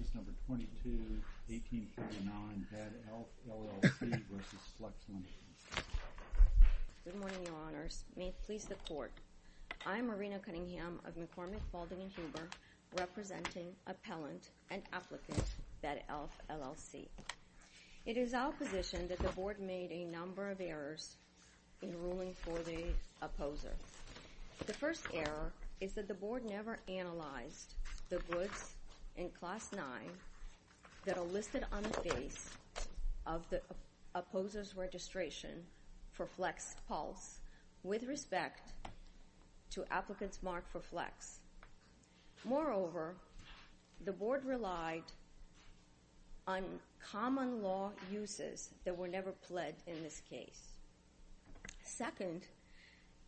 Case No. 22-1849, Bad Elf, LLC v. Flex Ltd. Good morning, Your Honors. May it please the Court, I'm Marina Cunningham of McCormick, Balding, and Huber, representing Appellant and Applicant, Bad Elf, LLC. It is our position that the Board made a number of errors in ruling for the opposer. The first error is that the Board never analyzed the goods in Class 9 that are listed on the face of the opposer's registration for Flex Pulse with respect to applicants marked for Flex. Moreover, the Board relied on common law uses that were never pledged in this case. Second,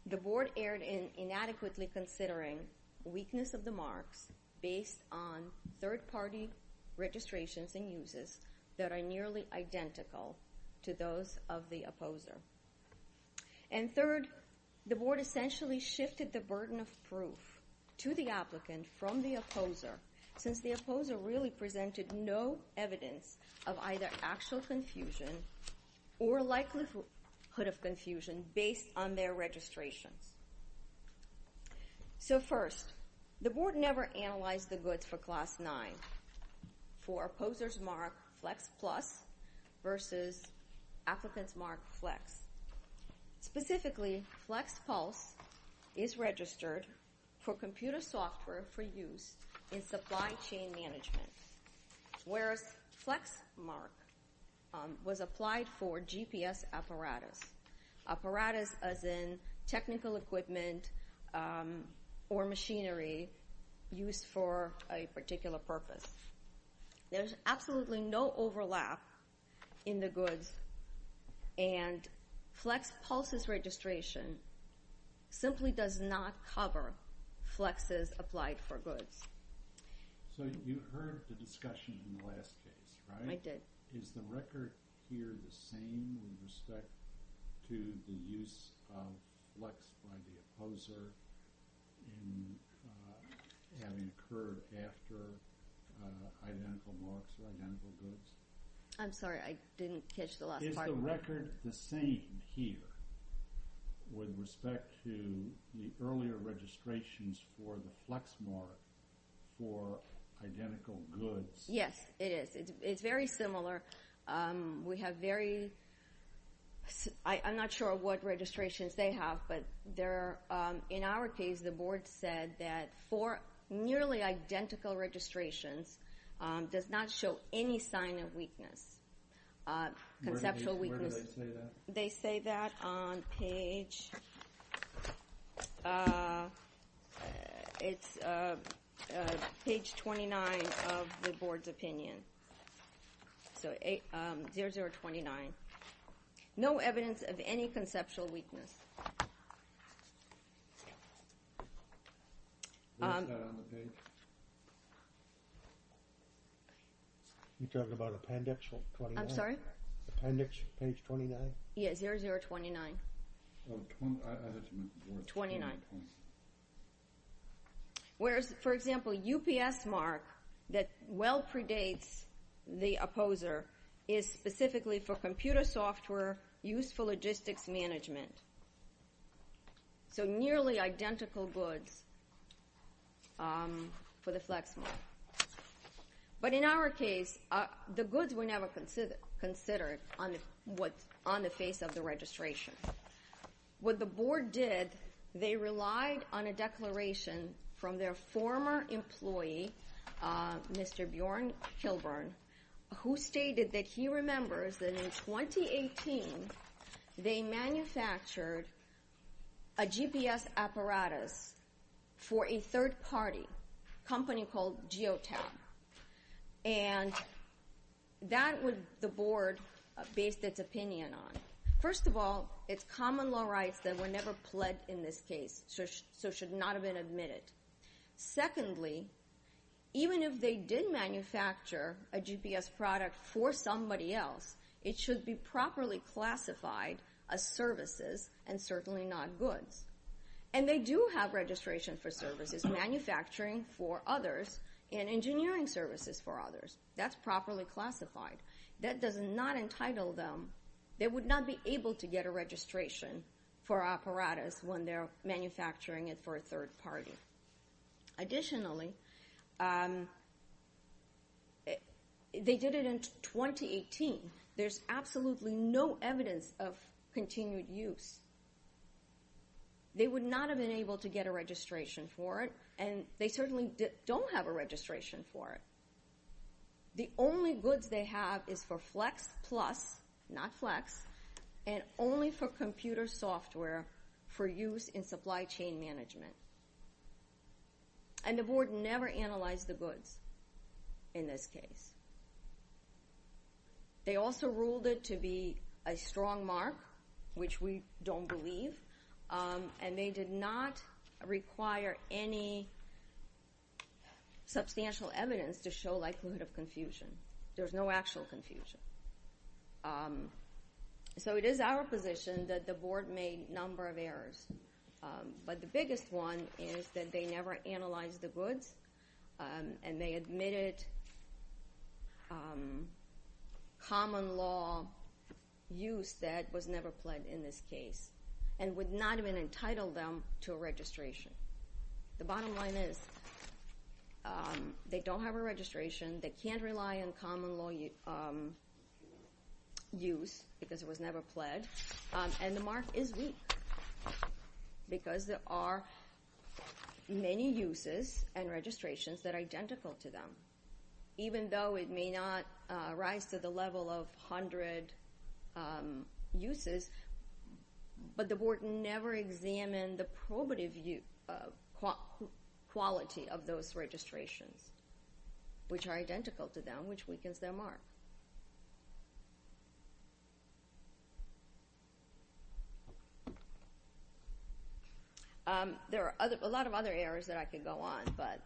the Board erred in inadequately considering weakness of the marks based on third-party registrations and uses that are nearly identical to those of the opposer. And third, the Board essentially shifted the burden of proof to the applicant from the opposer since the opposer really presented no evidence of either actual confusion or likelihood of confusion based on their registrations. So first, the Board never analyzed the goods for Class 9 for opposers marked Flex Plus versus applicants marked Flex. Specifically, Flex Pulse is registered for computer software for use in supply chain management, whereas Flex Mark was applied for GPS apparatus, apparatus as in technical equipment or machinery used for a particular purpose. There's absolutely no overlap in the goods, and Flex Pulse's registration simply does not cover Flex's applied for goods. So you heard the discussion in the last case, right? I did. Is the record here the same with respect to the use of Flex by the opposer in having occurred after identical marks or identical goods? I'm sorry. I didn't catch the last part. Is the record the same here with respect to the earlier registrations for the Flex Mark for identical goods? Yes, it is. It's very similar. We have very—I'm not sure what registrations they have, but in our case, the Board said that for nearly identical registrations, does not show any sign of weakness, conceptual weakness. Where do they say that? They say that on page—it's page 29 of the Board's opinion. So 0029. No evidence of any conceptual weakness. You're talking about appendix 29? I'm sorry? Appendix page 29? Yes, 0029. 29. Whereas, for example, UPS Mark that well predates the opposer is specifically for computer software used for logistics management. So nearly identical goods for the Flex Mark. But in our case, the goods were never considered on the face of the registration. What the Board did, they relied on a declaration from their former employee, Mr. Bjorn Kilburn, who stated that he remembers that in 2018, they manufactured a GPS apparatus for a third-party company called Geotab. And that would—the Board based its opinion on. First of all, it's common law rights that were never pled in this case, so should not have been admitted. Secondly, even if they did manufacture a GPS product for somebody else, it should be properly classified as services and certainly not goods. And they do have registration for services, manufacturing for others and engineering services for others. That's properly classified. That does not entitle them— they would not be able to get a registration for apparatus when they're manufacturing it for a third party. Additionally, they did it in 2018. There's absolutely no evidence of continued use. They would not have been able to get a registration for it, and they certainly don't have a registration for it. The only goods they have is for Flex Plus, not Flex, and only for computer software for use in supply chain management. And the Board never analyzed the goods in this case. They also ruled it to be a strong mark, which we don't believe. And they did not require any substantial evidence to show likelihood of confusion. There's no actual confusion. So it is our position that the Board made a number of errors. But the biggest one is that they never analyzed the goods, and they admitted common law use that was never pled in this case and would not have been entitled them to a registration. The bottom line is they don't have a registration. They can't rely on common law use because it was never pled. And the mark is weak because there are many uses and registrations that are identical to them, even though it may not rise to the level of 100 uses. But the Board never examined the probative quality of those registrations, which are identical to them, which weakens their mark. There are a lot of other errors that I could go on, but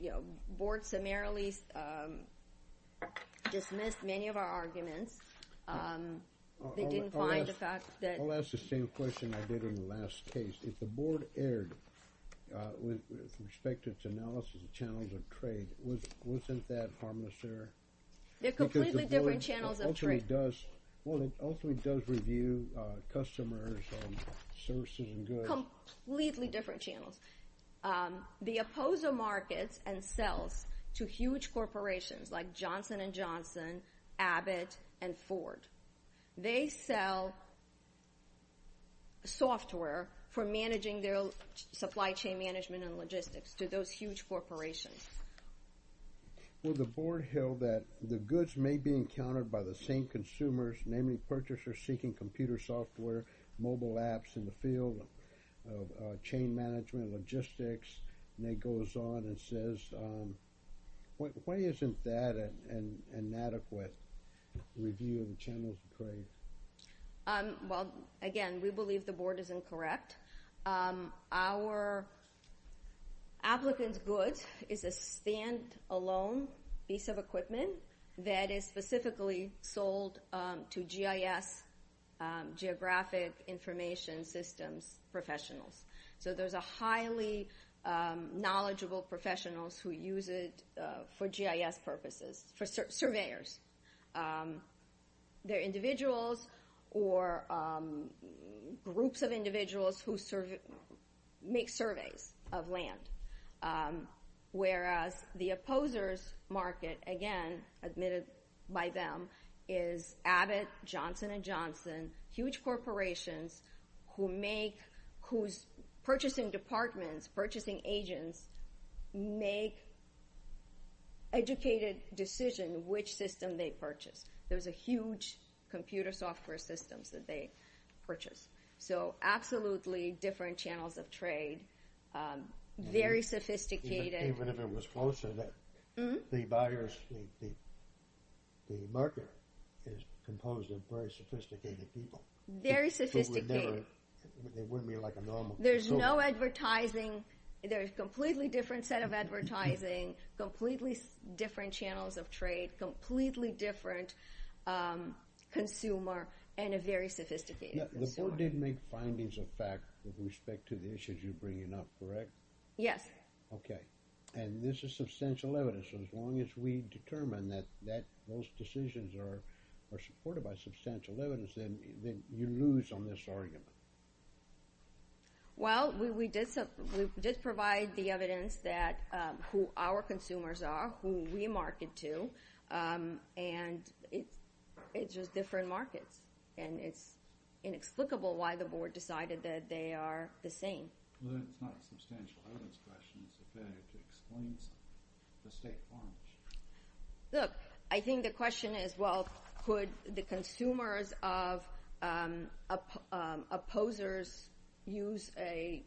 the Board summarily dismissed many of our arguments. They didn't find the fact that— I'll ask the same question I did in the last case. If the Board erred with respect to its analysis of channels of trade, wasn't that harmless error? They're completely different channels of trade. Well, it ultimately does review customers' services and goods. Completely different channels. The opposer markets and sells to huge corporations like Johnson & Johnson, Abbott, and Ford. They sell software for managing their supply chain management and logistics to those huge corporations. Well, the Board held that the goods may be encountered by the same consumers, namely purchasers seeking computer software, mobile apps in the field of chain management and logistics. Nate goes on and says, why isn't that an inadequate review of channels of trade? Well, again, we believe the Board is incorrect. Our applicant's goods is a standalone piece of equipment that is specifically sold to GIS, Geographic Information Systems, professionals. So there's highly knowledgeable professionals who use it for GIS purposes, for surveyors. They're individuals or groups of individuals who make surveys of land. Whereas the opposer's market, again, admitted by them, is Abbott, Johnson & Johnson, huge corporations whose purchasing departments, purchasing agents, make educated decisions which system they purchase. There's huge computer software systems that they purchase. So absolutely different channels of trade, very sophisticated. Even if it was closer, the buyers, the market is composed of very sophisticated people. Very sophisticated. They wouldn't be like a normal consumer. There's no advertising. There's a completely different set of advertising, completely different channels of trade, completely different consumer, and a very sophisticated consumer. The Board did make findings of fact with respect to the issues you're bringing up, correct? Yes. Okay. And this is substantial evidence. As long as we determine that those decisions are supported by substantial evidence, then you lose on this argument. Well, we did provide the evidence that who our consumers are, who we market to, and it's just different markets. And it's inexplicable why the Board decided that they are the same. Well, it's not substantial evidence questions. It explains the state farms. Look, I think the question is, could the consumers of opposers use a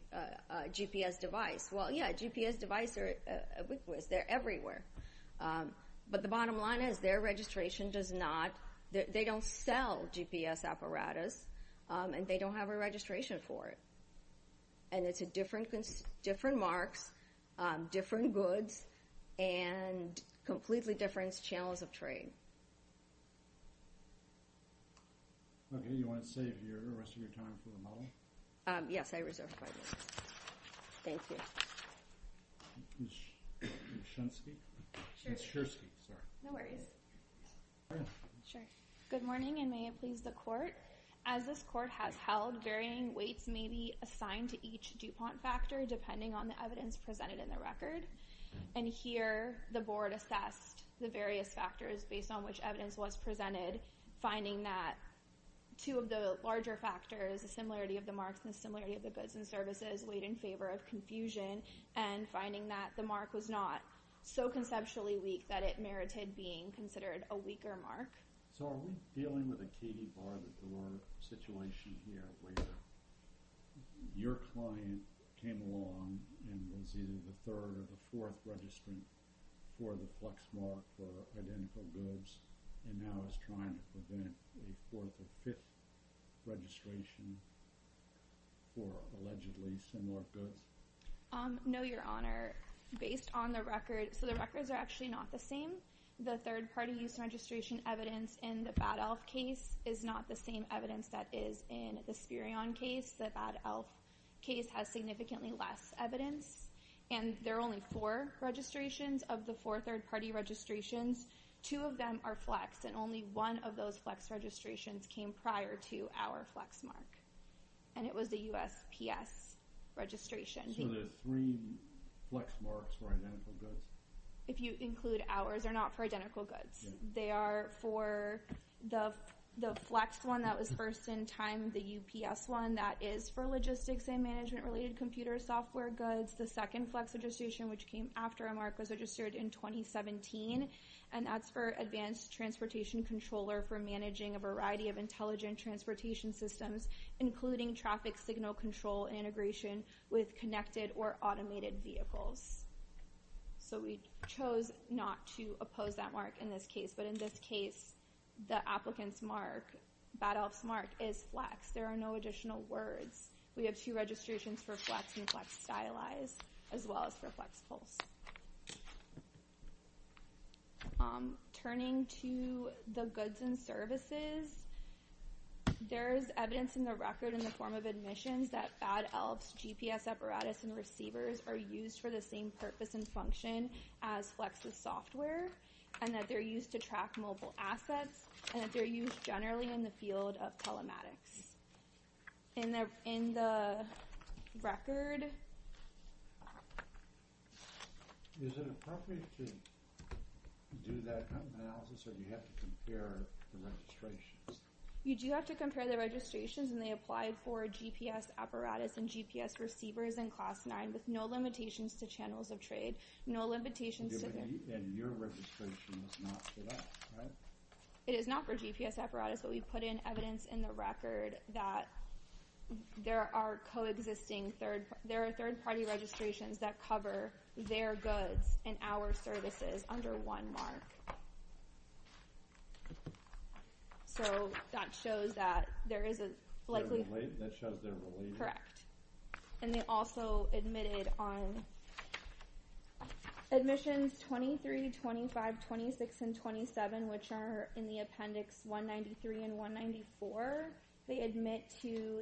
GPS device? Well, yeah, GPS devices are ubiquitous. They're everywhere. But the bottom line is their registration does not, they don't sell GPS apparatus, and they don't have a registration for it. And it's different marks, different goods, and completely different channels of trade. Okay. You want to save the rest of your time for the model? Yes, I reserve five minutes. Thank you. Ms. Shensky? Ms. Shersky. Sorry. No worries. Sure. Good morning, and may it please the Court. As this Court has held, varying weights may be assigned to each DuPont factor depending on the evidence presented in the record. And here, the Board assessed the various factors based on which evidence was presented, finding that two of the larger factors, the similarity of the marks and the similarity of the goods and services, weighed in favor of confusion, and finding that the mark was not so conceptually weak that it merited being considered a weaker mark. So are we dealing with a Katie Barbador situation here, where your client came along and was either the third or the fourth registrant for the Plex mark for identical goods and now is trying to prevent a fourth or fifth registration for allegedly similar goods? No, Your Honor. Based on the record, so the records are actually not the same. The third-party use registration evidence in the Bad Elf case is not the same evidence that is in the Spurion case. The Bad Elf case has significantly less evidence. And there are only four registrations of the four third-party registrations. Two of them are Plex, and only one of those Plex registrations came prior to our Plex mark. And it was the USPS registration. So there are three Plex marks for identical goods? If you include ours, they're not for identical goods. They are for the Plex one that was first in time, the UPS one that is for logistics and management-related computer software goods. The second Plex registration, which came after our mark, was registered in 2017. And that's for advanced transportation controller for managing a variety of intelligent transportation systems, including traffic signal control integration with connected or automated vehicles. So we chose not to oppose that mark in this case. But in this case, the applicant's mark, Bad Elf's mark, is Plex. There are no additional words. We have two registrations for Plex and Plex stylized, as well as for Plex Pulse. Turning to the goods and services, there is evidence in the record in the form of admissions that Bad Elf's GPS apparatus and receivers are used for the same purpose and function as Plex's software, and that they're used to track mobile assets, and that they're used generally in the field of telematics. Is it appropriate to do that analysis, or do you have to compare the registrations? You do have to compare the registrations, and they apply for GPS apparatus and GPS receivers in Class 9, with no limitations to channels of trade, no limitations to... And your registration is not for that, right? It is not for GPS apparatus, but we put in evidence in the record that there are third-party registrations that cover their goods and our services under one mark. So that shows that there is a... That shows they're related? Correct. And they also admitted on admissions 23, 25, 26, and 27, which are in the appendix 193 and 194, they admit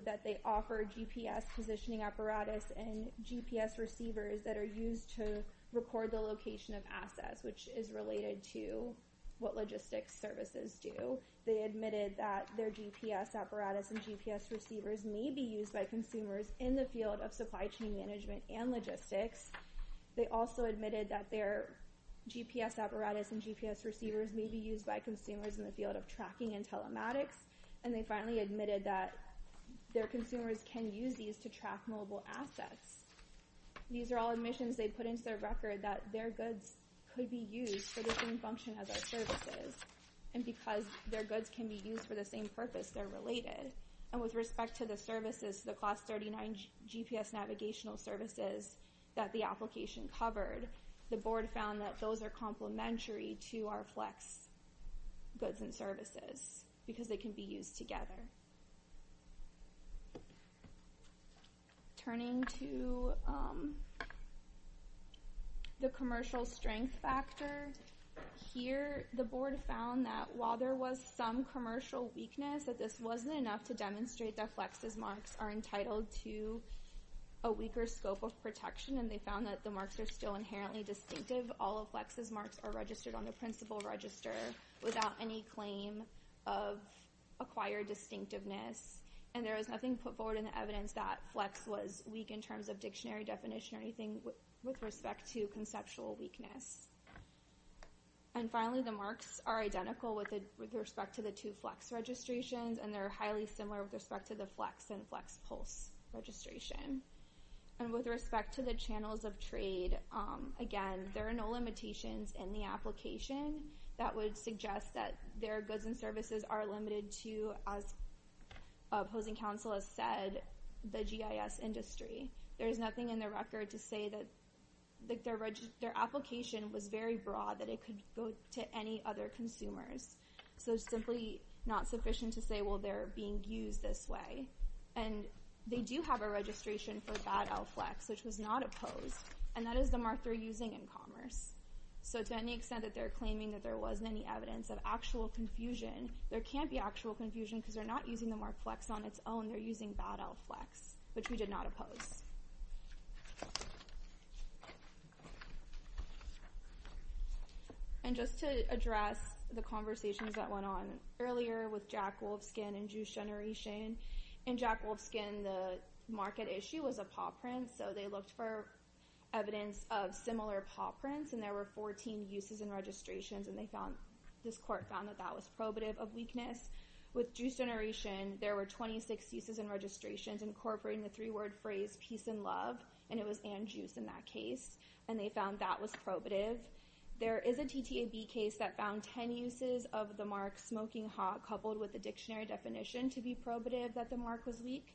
that they offer GPS positioning apparatus and GPS receivers that are used to record the location of assets, which is related to what logistics services do. They admitted that their GPS apparatus and GPS receivers may be used by consumers in the field of supply chain management and logistics. They also admitted that their GPS apparatus and GPS receivers may be used by consumers in the field of tracking and telematics. And they finally admitted that their consumers can use these to track mobile assets. These are all admissions they put into their record that their goods could be used for the same function as our services. And because their goods can be used for the same purpose, they're related. And with respect to the services, the Class 39 GPS navigational services that the application covered, the board found that those are complementary to our FLEX goods and services because they can be used together. Turning to the commercial strength factor here, the board found that while there was some commercial weakness, that this wasn't enough to demonstrate that FLEX's marks are entitled to a weaker scope of protection, and they found that the marks are still inherently distinctive. All of FLEX's marks are registered on the principal register without any claim of acquired distinctiveness. And there was nothing put forward in the evidence that FLEX was weak in terms of dictionary definition or anything with respect to conceptual weakness. And finally, the marks are identical with respect to the two FLEX registrations, and they're highly similar with respect to the FLEX and FLEX Pulse registration. And with respect to the channels of trade, again, there are no limitations in the application. That would suggest that their goods and services are limited to, as opposing counsel has said, the GIS industry. There is nothing in the record to say that their application was very broad, that it could go to any other consumers. So it's simply not sufficient to say, well, they're being used this way. And they do have a registration for bad LFLEX, which was not opposed, and that is the mark they're using in commerce. So to any extent that they're claiming that there wasn't any evidence of actual confusion, there can't be actual confusion because they're not using the mark FLEX on its own, they're using bad LFLEX, which we did not oppose. And just to address the conversations that went on earlier with Jack Wolfskin and Juice Generation, in Jack Wolfskin the market issue was a paw print, so they looked for evidence of similar paw prints, and there were 14 uses and registrations, and this court found that that was probative of weakness. With Juice Generation, there were 26 uses and registrations incorporating the three-word phrase, peace and love, and it was and juice in that case, and they found that was probative. There is a TTAB case that found 10 uses of the mark smoking hot coupled with the dictionary definition to be probative that the mark was weak.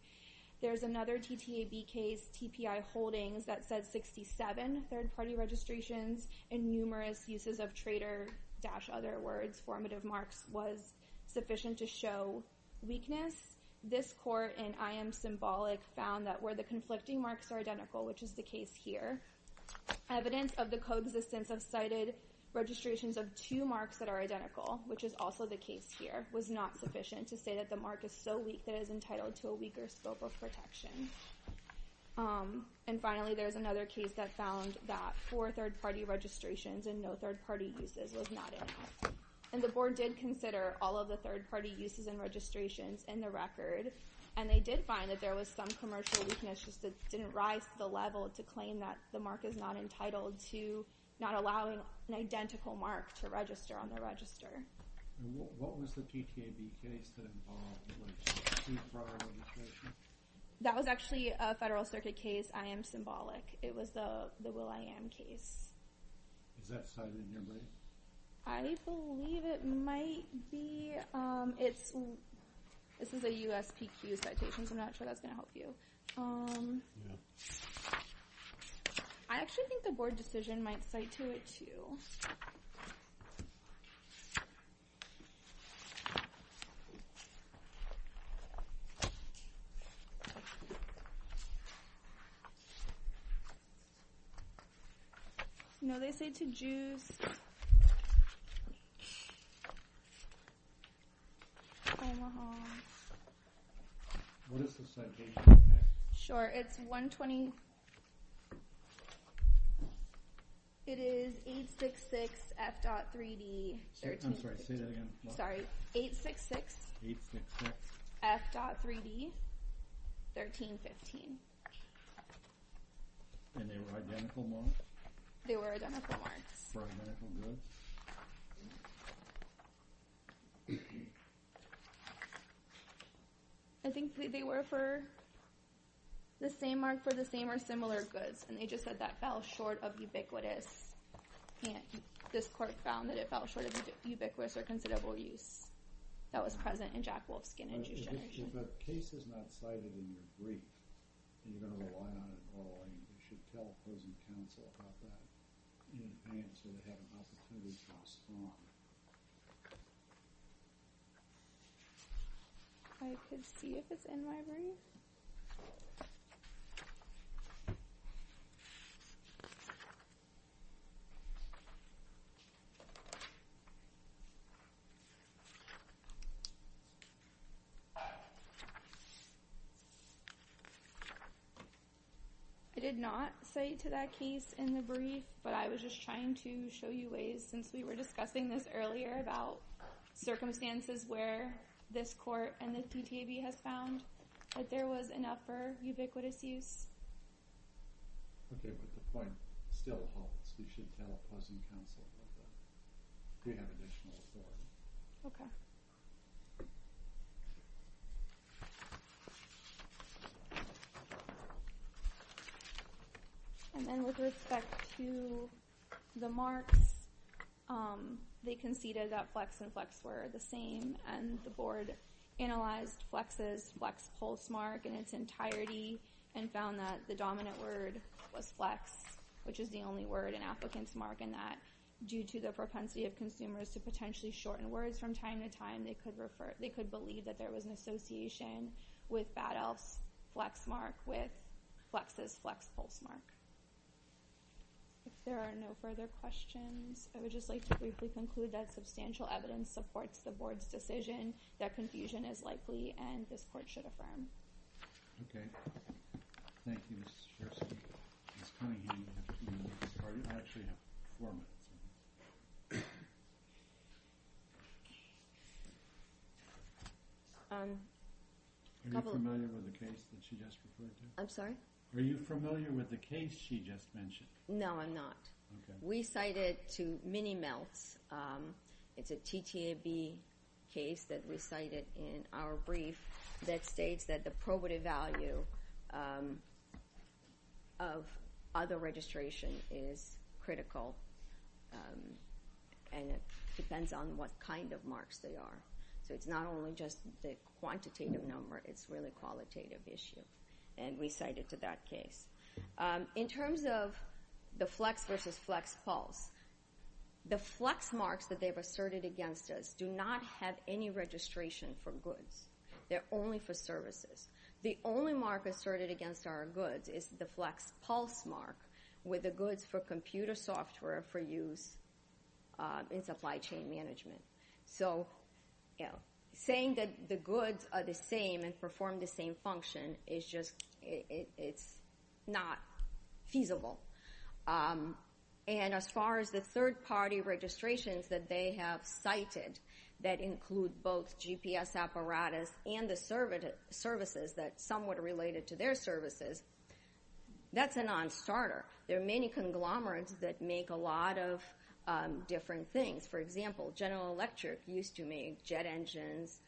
There's another TTAB case, TPI Holdings, that said 67 third-party registrations and numerous uses of traitor-other words formative marks was sufficient to show weakness. This court in I Am Symbolic found that where the conflicting marks are identical, which is the case here, evidence of the coexistence of cited registrations of two marks that are identical, which is also the case here, was not sufficient to say that the mark is so weak that it is entitled to a weaker scope of protection. And finally, there's another case that found that four third-party registrations and no third-party uses was not enough. And the board did consider all of the third-party uses and registrations in the record, and they did find that there was some commercial weakness just that didn't rise to the level to claim that the mark is not entitled to not allowing an identical mark to register on the register. And what was the TTAB case that involved two prior registrations? That was actually a Federal Circuit case, I Am Symbolic. It was the Will.I.Am case. Is that cited in here, Brady? I believe it might be. This is a USPQ citation, so I'm not sure that's going to help you. I actually think the board decision might cite to it, too. Okay. No, they cite to Jews. Omaha. What is the citation? Sure. It's 120. It is 866 F.3D 1315. I'm sorry, say that again. Sorry, 866 F.3D 1315. And they were identical marks? They were identical marks. For identical goods? I think they were for the same mark for the same or similar goods, and they just said that fell short of ubiquitous. And this court found that it fell short of ubiquitous or considerable use. That was present in Jack Wolfskin and Jews Generation. But the case is not cited in your brief, and you don't know why not at all. You should tell opposing counsel about that in advance so they have an opportunity to respond. I could see if it's in my brief. I did not cite to that case in the brief, but I was just trying to show you ways, since we were discussing this earlier about circumstances where this court and the CTAB has found that there was enough for ubiquitous use. Okay, but the point still holds. You should tell opposing counsel about that if you have additional authority. Okay. And then with respect to the marks, they conceded that flex and flex were the same, and the board analyzed flex's flex pulse mark in its entirety and found that the dominant word was flex, which is the only word an applicant's marking that. Due to the propensity of consumers to potentially shorten words from time to time, they could believe that there was an association with Bad Elf's flex mark with flex's flex pulse mark. If there are no further questions, I would just like to briefly conclude that substantial evidence supports the board's decision that confusion is likely and this court should affirm. Okay. Thank you, Ms. Schorstein. Ms. Cunningham, do you want to get started? I actually have four minutes. Are you familiar with the case that she just referred to? I'm sorry? Are you familiar with the case she just mentioned? No, I'm not. Okay. We cited to Minnie Meltz. It's a TTAB case that we cited in our brief that states that the probative value of other registration is critical, and it depends on what kind of marks they are. So it's not only just the quantitative number. It's really qualitative issue. And we cited to that case. In terms of the flex versus flex pulse, the flex marks that they've asserted against us do not have any registration for goods. They're only for services. The only mark asserted against our goods is the flex pulse mark with the goods for computer software for use in supply chain management. So saying that the goods are the same and perform the same function is just not feasible. And as far as the third-party registrations that they have cited that include both GPS apparatus and the services that are somewhat related to their services, that's a non-starter. There are many conglomerates that make a lot of different things. For example, General Electric used to make jet engines,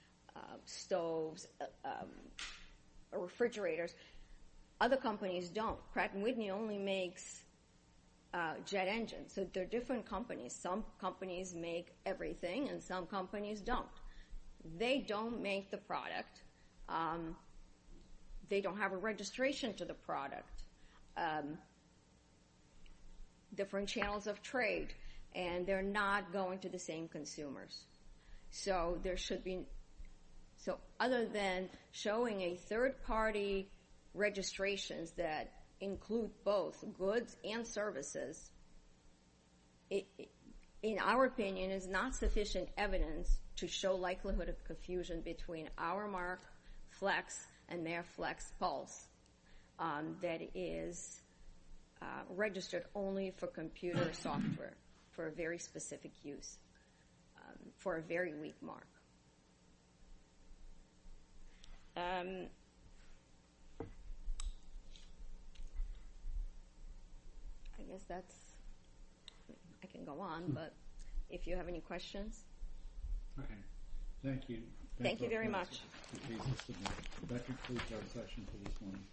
stoves, refrigerators. Other companies don't. Pratt & Whitney only makes jet engines. So they're different companies. Some companies make everything, and some companies don't. They don't make the product. They don't have a registration to the product. Different channels of trade, and they're not going to the same consumers. So other than showing a third-party registration that includes both goods and services, in our opinion, is not sufficient evidence to show likelihood of confusion between our mark flex and their flex pulse. That is registered only for computer software for a very specific use, for a very weak mark. I guess I can go on, but if you have any questions. Okay. Thank you. Thank you very much. That concludes our session for this morning.